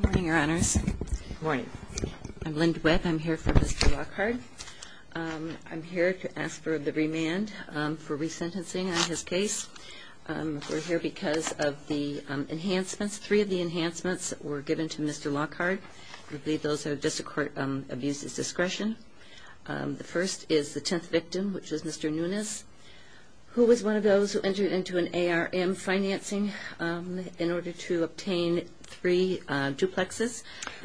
Good morning, your honors. Good morning. I'm Lynda Webb. I'm here for Mr. Lockard. I'm here to ask for the remand for resentencing on his case. We're here because of the enhancements. Three of the enhancements were given to Mr. Lockard. I believe those are at the District Court of Abuse's discretion. The first is the tenth victim, which is Mr. Nunes, who was one of those who entered into an ARM financing in order to obtain three duplexes.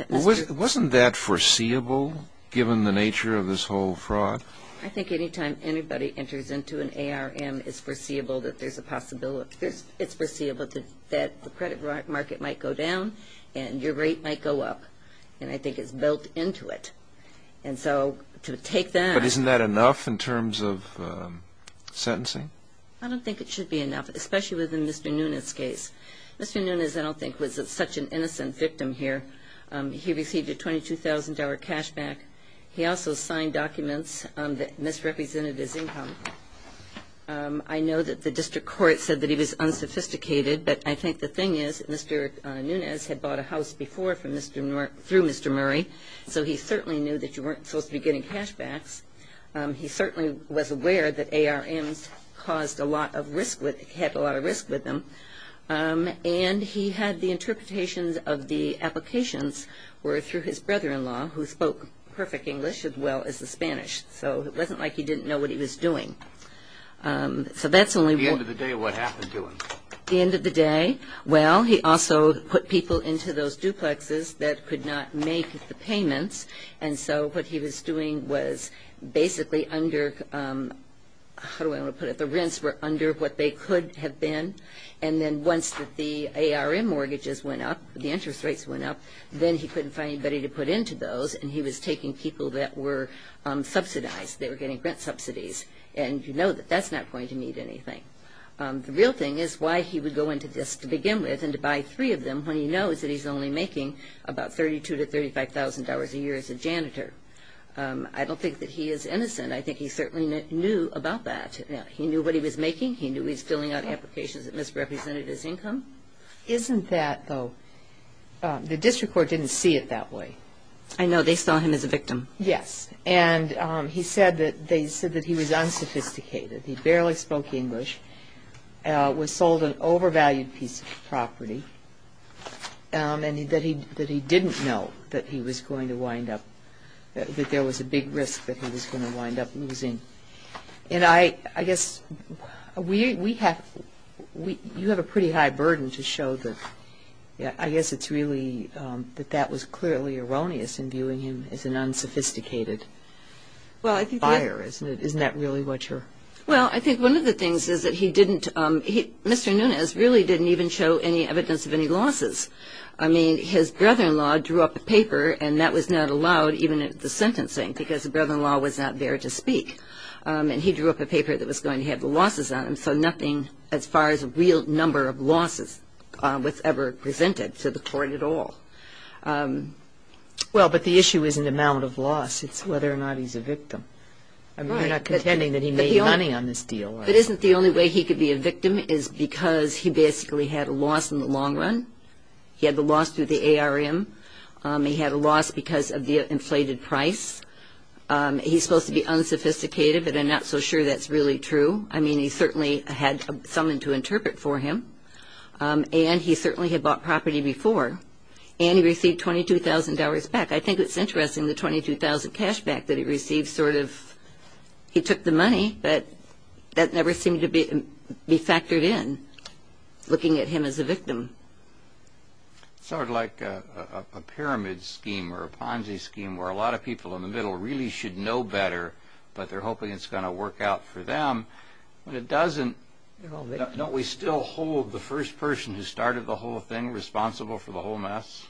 Wasn't that foreseeable, given the nature of this whole fraud? I think any time anybody enters into an ARM, it's foreseeable that the credit market might go down and your rate might go up. And I think it's built into it. And so to take that... But isn't that enough in terms of sentencing? I don't think it should be enough, especially within Mr. Nunes' case. Mr. Nunes, I don't think, was such an innocent victim here. He received a $22,000 cash back. He also signed documents that misrepresented his income. I know that the District Court said that he was unsophisticated, but I think the thing is Mr. Nunes had bought a house before through Mr. Murray, so he certainly knew that you weren't supposed to be getting cashbacks. He certainly was aware that ARMs caused a lot of risk, had a lot of risk with them. And he had the interpretations of the applications were through his brother-in-law, who spoke perfect English as well as the Spanish. So it wasn't like he didn't know what he was doing. So that's only... At the end of the day, what happened to him? At the end of the day, well, he also put people into those duplexes that could not make the payments. And so what he was doing was basically under... how do I want to put it? The rents were under what they could have been. And then once the ARM mortgages went up, the interest rates went up, then he couldn't find anybody to put into those. And he was taking people that were subsidized. They were getting rent subsidies. And you know that that's not going to mean anything. The real thing is why he would go into this to begin with and to buy three of them when he knows that he's only making about $32,000 to $35,000 a year as a janitor. I don't think that he is innocent. I think he certainly knew about that. He knew what he was making. He knew he was filling out applications that misrepresented his income. Isn't that, though, the district court didn't see it that way? I know. They saw him as a victim. Yes. And he said that he was unsophisticated. He barely spoke English, was sold an overvalued piece of property, and that he didn't know that he was going to wind up... that there was a big risk that he was going to wind up losing. And I guess we have... you have a pretty high burden to show that... Well, I think one of the things is that he didn't... Mr. Nunes really didn't even show any evidence of any losses. I mean, his brother-in-law drew up a paper, and that was not allowed even at the sentencing because the brother-in-law was not there to speak. And he drew up a paper that was going to have the losses on him, so nothing as far as a real number of losses was ever presented to the court at all. Well, but the issue isn't amount of loss. It's whether or not he's a victim. I mean, you're not contending that he made money on this deal. But isn't the only way he could be a victim is because he basically had a loss in the long run. He had the loss through the ARM. He had a loss because of the inflated price. He's supposed to be unsophisticated, but I'm not so sure that's really true. I mean, he certainly had someone to interpret for him, and he certainly had bought property before. And he received $22,000 back. I think it's interesting, the $22,000 cash back that he received, sort of he took the money, but that never seemed to be factored in, looking at him as a victim. Sort of like a pyramid scheme or a Ponzi scheme where a lot of people in the middle really should know better, but they're hoping it's going to work out for them. When it doesn't, don't we still hold the first person who started the whole thing responsible for the whole mess?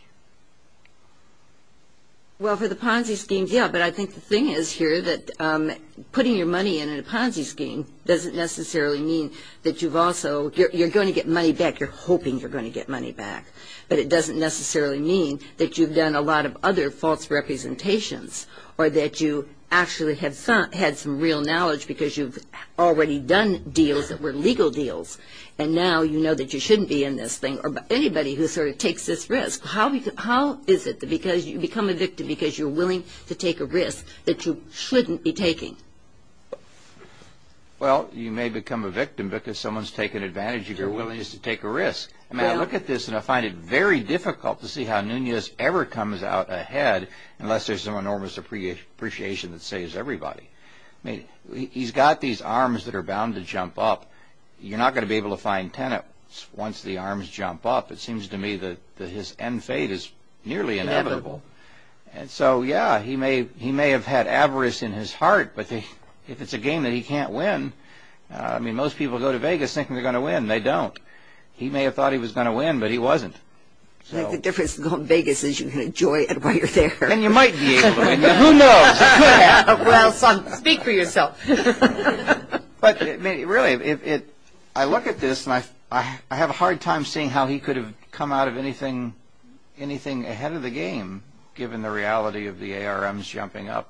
Well, for the Ponzi schemes, yeah, but I think the thing is here that putting your money in a Ponzi scheme doesn't necessarily mean that you're going to get money back. You're hoping you're going to get money back, but it doesn't necessarily mean that you've done a lot of other false representations or that you actually had some real knowledge because you've already done deals that were legal deals, and now you know that you shouldn't be in this thing or anybody who sort of takes this risk. How is it that because you become a victim because you're willing to take a risk that you shouldn't be taking? Well, you may become a victim because someone's taken advantage of your willingness to take a risk. I mean, I look at this and I find it very difficult to see how Nunez ever comes out ahead unless there's some enormous appreciation that saves everybody. He's got these arms that are bound to jump up. You're not going to be able to find tenets once the arms jump up. It seems to me that his end fate is nearly inevitable. Inevitable. And so, yeah, he may have had avarice in his heart, but if it's a game that he can't win, I mean, most people go to Vegas thinking they're going to win. They don't. He may have thought he was going to win, but he wasn't. The difference in going to Vegas is you can enjoy it while you're there. And you might be able to win. Who knows? Well, son, speak for yourself. But, really, I look at this and I have a hard time seeing how he could have come out of anything ahead of the game given the reality of the ARMs jumping up.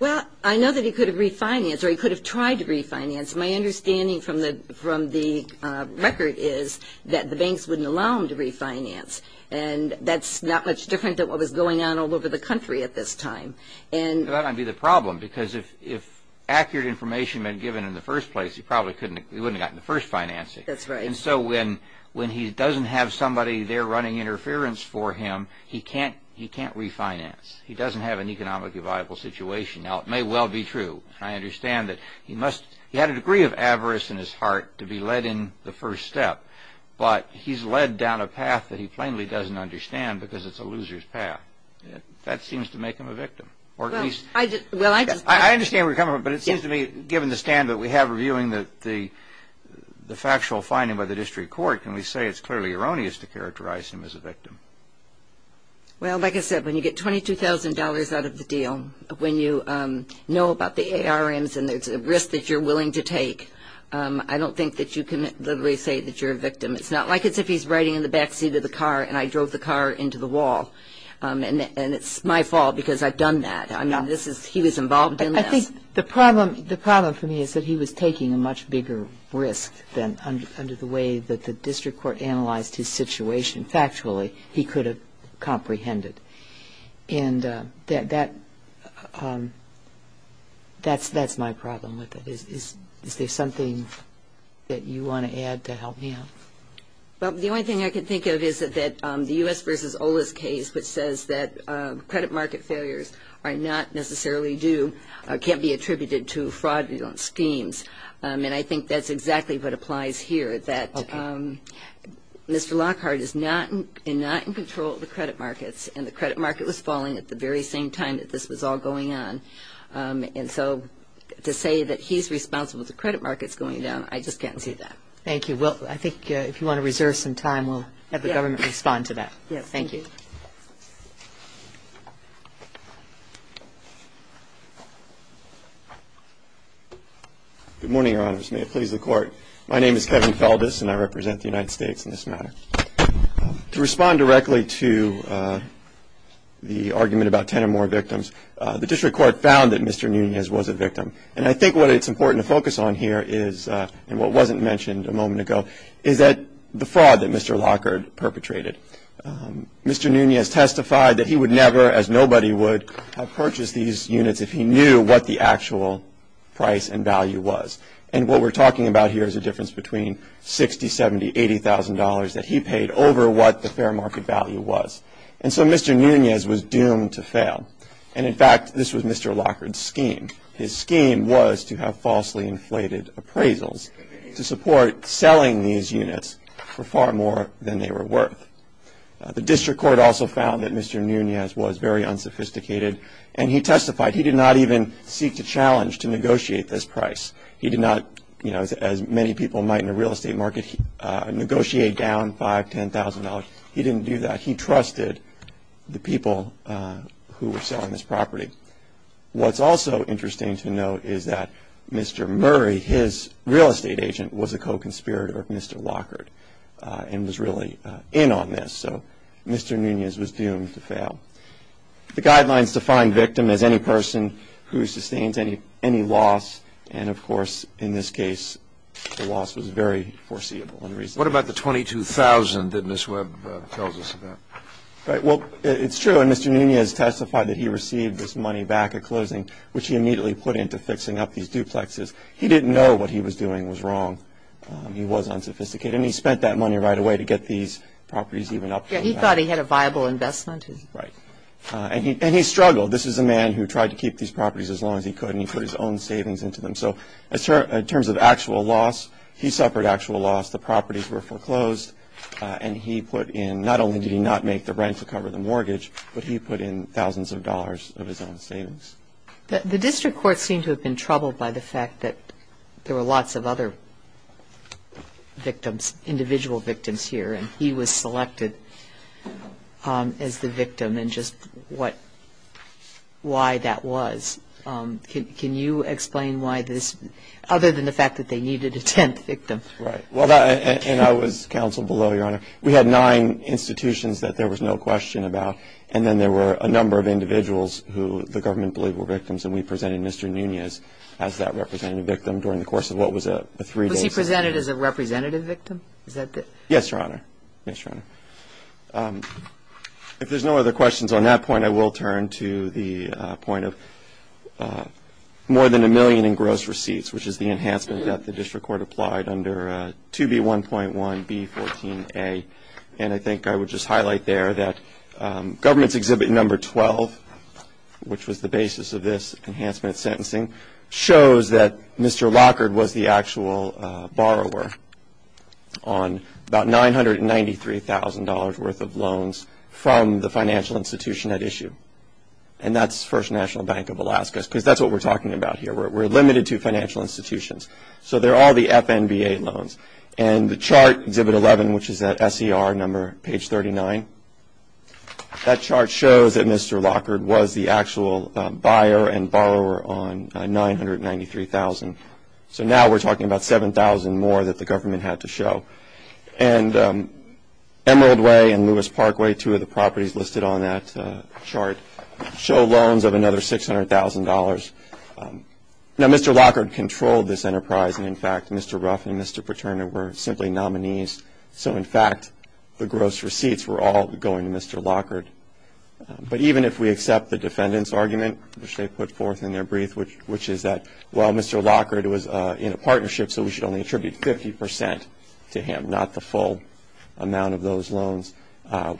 Well, I know that he could have refinanced or he could have tried to refinance. My understanding from the record is that the banks wouldn't allow him to refinance, and that's not much different than what was going on all over the country at this time. That might be the problem, because if accurate information had been given in the first place, he probably wouldn't have gotten the first financing. That's right. And so when he doesn't have somebody there running interference for him, he can't refinance. He doesn't have an economically viable situation. Now, it may well be true. I understand that he had a degree of avarice in his heart to be led in the first step, but he's led down a path that he plainly doesn't understand because it's a loser's path. That seems to make him a victim. I understand where you're coming from, but it seems to me given the stand that we have reviewing the factual finding by the district court, can we say it's clearly erroneous to characterize him as a victim? Well, like I said, when you get $22,000 out of the deal, when you know about the ARMs and there's a risk that you're willing to take, I don't think that you can literally say that you're a victim. It's not like as if he's riding in the backseat of the car and I drove the car into the wall, and it's my fault because I've done that. I mean, he was involved in this. I think the problem for me is that he was taking a much bigger risk than under the way that the district court analyzed his situation factually, he could have comprehended. And that's my problem with it. Is there something that you want to add to help me out? Well, the only thing I can think of is that the U.S. versus OLA's case, which says that credit market failures are not necessarily due, can't be attributed to fraudulent schemes. And I think that's exactly what applies here, that Mr. Lockhart is not in control of the credit markets, and the credit market was falling at the very same time that this was all going on. And so to say that he's responsible for credit markets going down, I just can't see that. Thank you. Well, I think if you want to reserve some time, we'll have the government respond to that. Yes. Thank you. Good morning, Your Honors. May it please the Court. My name is Kevin Feldes, and I represent the United States in this matter. To respond directly to the argument about 10 or more victims, the district court found that Mr. Nunez was a victim. And I think what it's important to focus on here is, and what wasn't mentioned a moment ago, is that the fraud that Mr. Lockhart perpetrated. Mr. Nunez testified that he would never, as nobody would, have purchased these units if he knew what the actual price and value was. And what we're talking about here is a difference between $60,000, $70,000, $80,000 that he paid over what the fair market value was. And so Mr. Nunez was doomed to fail. And, in fact, this was Mr. Lockhart's scheme. His scheme was to have falsely inflated appraisals to support selling these units for far more than they were worth. The district court also found that Mr. Nunez was very unsophisticated, and he testified. He did not even seek to challenge to negotiate this price. He did not, as many people might in the real estate market, negotiate down $5,000, $10,000. He didn't do that. He trusted the people who were selling this property. What's also interesting to note is that Mr. Murray, his real estate agent, was a co-conspirator of Mr. Lockhart and was really in on this. So Mr. Nunez was doomed to fail. The guidelines define victim as any person who sustains any loss. And, of course, in this case, the loss was very foreseeable. What about the $22,000 that Ms. Webb tells us about? Right. Well, it's true. And Mr. Nunez testified that he received this money back at closing, which he immediately put into fixing up these duplexes. He didn't know what he was doing was wrong. He was unsophisticated. And he spent that money right away to get these properties even up. He thought he had a viable investment. Right. And he struggled. This is a man who tried to keep these properties as long as he could, and he put his own savings into them. So in terms of actual loss, he suffered actual loss. The properties were foreclosed. And he put in not only did he not make the rent to cover the mortgage, but he put in thousands of dollars of his own savings. The district court seemed to have been troubled by the fact that there were lots of other victims, individual victims here, and he was selected as the victim and just why that was. Can you explain why this, other than the fact that they needed a tenth victim? Right. And I was counsel below, Your Honor. We had nine institutions that there was no question about, and then there were a number of individuals who the government believed were victims, and we presented Mr. Nunez as that representative victim during the course of what was a three-day session. Was he presented as a representative victim? Yes, Your Honor. Yes, Your Honor. If there's no other questions on that point, I will turn to the point of more than a million in gross receipts, which is the enhancement that the district court applied under 2B1.1B14A. And I think I would just highlight there that government's exhibit number 12, which was the basis of this enhancement sentencing, shows that Mr. Lockard was the actual borrower on about $993,000 worth of loans from the financial institution at issue. And that's First National Bank of Alaska, because that's what we're talking about here. We're limited to financial institutions. So they're all the FNBA loans. And the chart, exhibit 11, which is that SCR number, page 39, that chart shows that Mr. Lockard was the actual buyer and borrower on $993,000. So now we're talking about $7,000 more that the government had to show. And Emerald Way and Lewis Parkway, two of the properties listed on that chart, show loans of another $600,000. Now, Mr. Lockard controlled this enterprise, and, in fact, Mr. Ruff and Mr. Paterno were simply nominees. So, in fact, the gross receipts were all going to Mr. Lockard. But even if we accept the defendant's argument, which they put forth in their brief, which is that, well, Mr. Lockard was in a partnership, so we should only attribute 50% to him, not the full amount of those loans,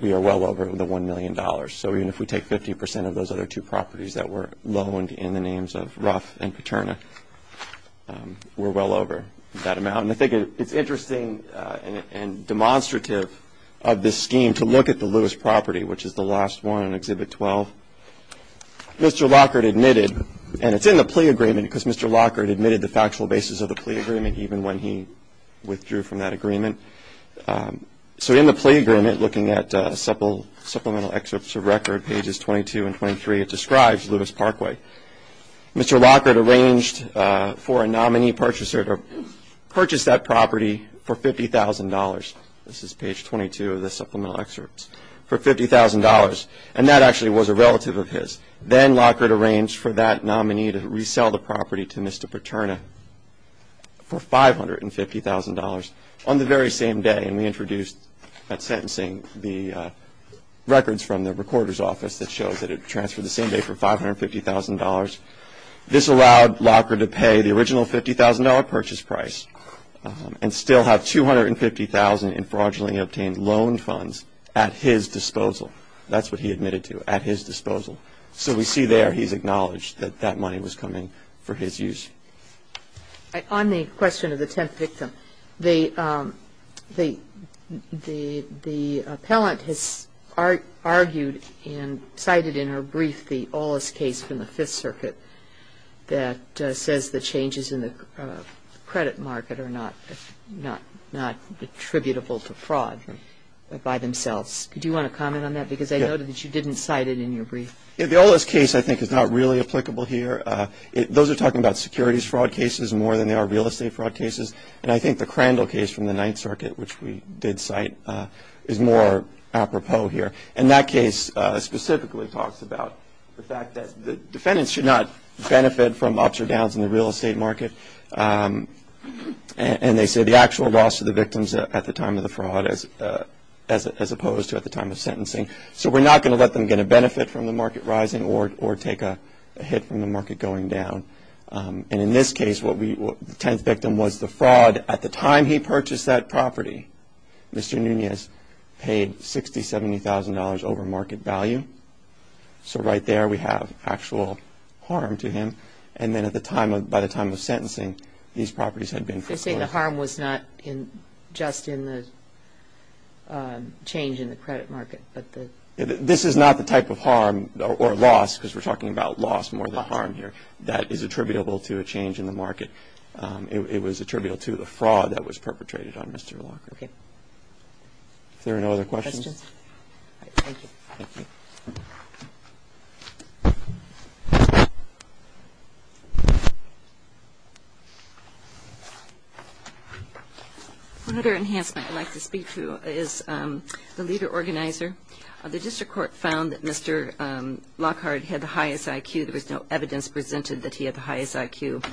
we are well over the $1 million. So even if we take 50% of those other two properties that were loaned in the names of Ruff and Paterno, we're well over that amount. And I think it's interesting and demonstrative of this scheme to look at the Lewis property, which is the last one in Exhibit 12. Mr. Lockard admitted, and it's in the plea agreement, because Mr. Lockard admitted the factual basis of the plea agreement even when he withdrew from that agreement. So in the plea agreement, looking at supplemental excerpts of record, pages 22 and 23, it describes Lewis Parkway. Mr. Lockard arranged for a nominee purchaser to purchase that property for $50,000. This is page 22 of the supplemental excerpts, for $50,000. And that actually was a relative of his. Then Lockard arranged for that nominee to resell the property to Mr. Paterno for $550,000 on the very same day. And we introduced at sentencing the records from the recorder's office that shows that it transferred the same day for $550,000. This allowed Lockard to pay the original $50,000 purchase price and still have $250,000 in fraudulently obtained loan funds at his disposal. That's what he admitted to, at his disposal. So we see there he's acknowledged that that money was coming for his use. On the question of the 10th victim, the appellant has argued and cited in her brief the Ollis case from the Fifth Circuit that says the changes in the credit market are not attributable to fraud by themselves. Do you want to comment on that? Because I noted that you didn't cite it in your brief. The Ollis case, I think, is not really applicable here. Those are talking about securities fraud cases more than they are real estate fraud cases. And I think the Crandall case from the Ninth Circuit, which we did cite, is more apropos here. And that case specifically talks about the fact that defendants should not benefit from ups or downs in the real estate market. And they say the actual loss to the victims at the time of the fraud as opposed to at the time of sentencing. So we're not going to let them get a benefit from the market rising or take a hit from the market going down. And in this case, the 10th victim was the fraud at the time he purchased that property. Mr. Nunez paid $60,000, $70,000 over market value. So right there we have actual harm to him. And then by the time of sentencing, these properties had been foreclosed. They say the harm was not just in the change in the credit market. This is not the type of harm or loss, because we're talking about loss more than harm here, that is attributable to a change in the market. It was attributable to the fraud that was perpetrated on Mr. Lockhart. Are there no other questions? Thank you. Thank you. Another enhancement I'd like to speak to is the leader-organizer. The district court found that Mr. Lockhart had the highest IQ. There was no evidence presented that he had the highest IQ.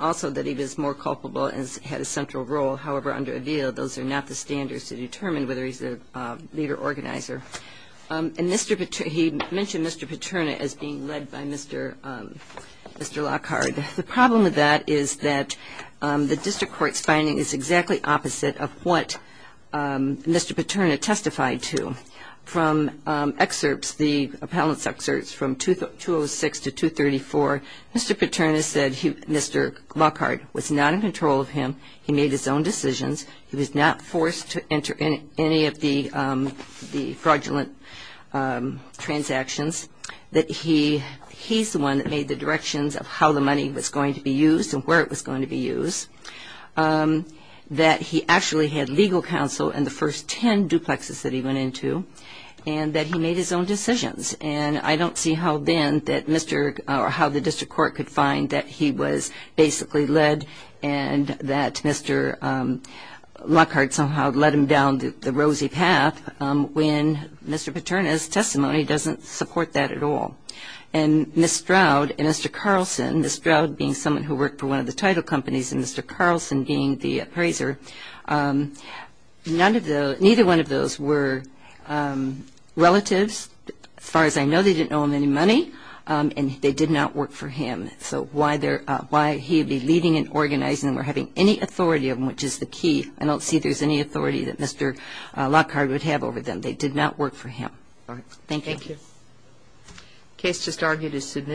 Also that he was more culpable and had a central role. However, under AVEA, those are not the standards to determine whether he's a leader-organizer. And he mentioned Mr. Paterna as being led by Mr. Lockhart. The problem with that is that the district court's finding is exactly opposite of what Mr. Paterna testified to. From excerpts, the appellant's excerpts from 206 to 234, Mr. Paterna said Mr. Lockhart was not in control of him. He made his own decisions. He was not forced to enter any of the fraudulent transactions. That he's the one that made the directions of how the money was going to be used and where it was going to be used. That he actually had legal counsel in the first ten duplexes that he went into. And that he made his own decisions. And I don't see how then that Mr. or how the district court could find that he was basically led and that Mr. Lockhart somehow led him down the rosy path when Mr. Paterna's testimony doesn't support that at all. And Ms. Stroud and Mr. Carlson, Ms. Stroud being someone who worked for one of the title companies and Mr. Carlson being the appraiser, neither one of those were relatives. As far as I know, they didn't owe him any money. And they did not work for him. So why he would be leading and organizing or having any authority of him, which is the key, I don't see there's any authority that Mr. Lockhart would have over them. They did not work for him. Thank you. Thank you.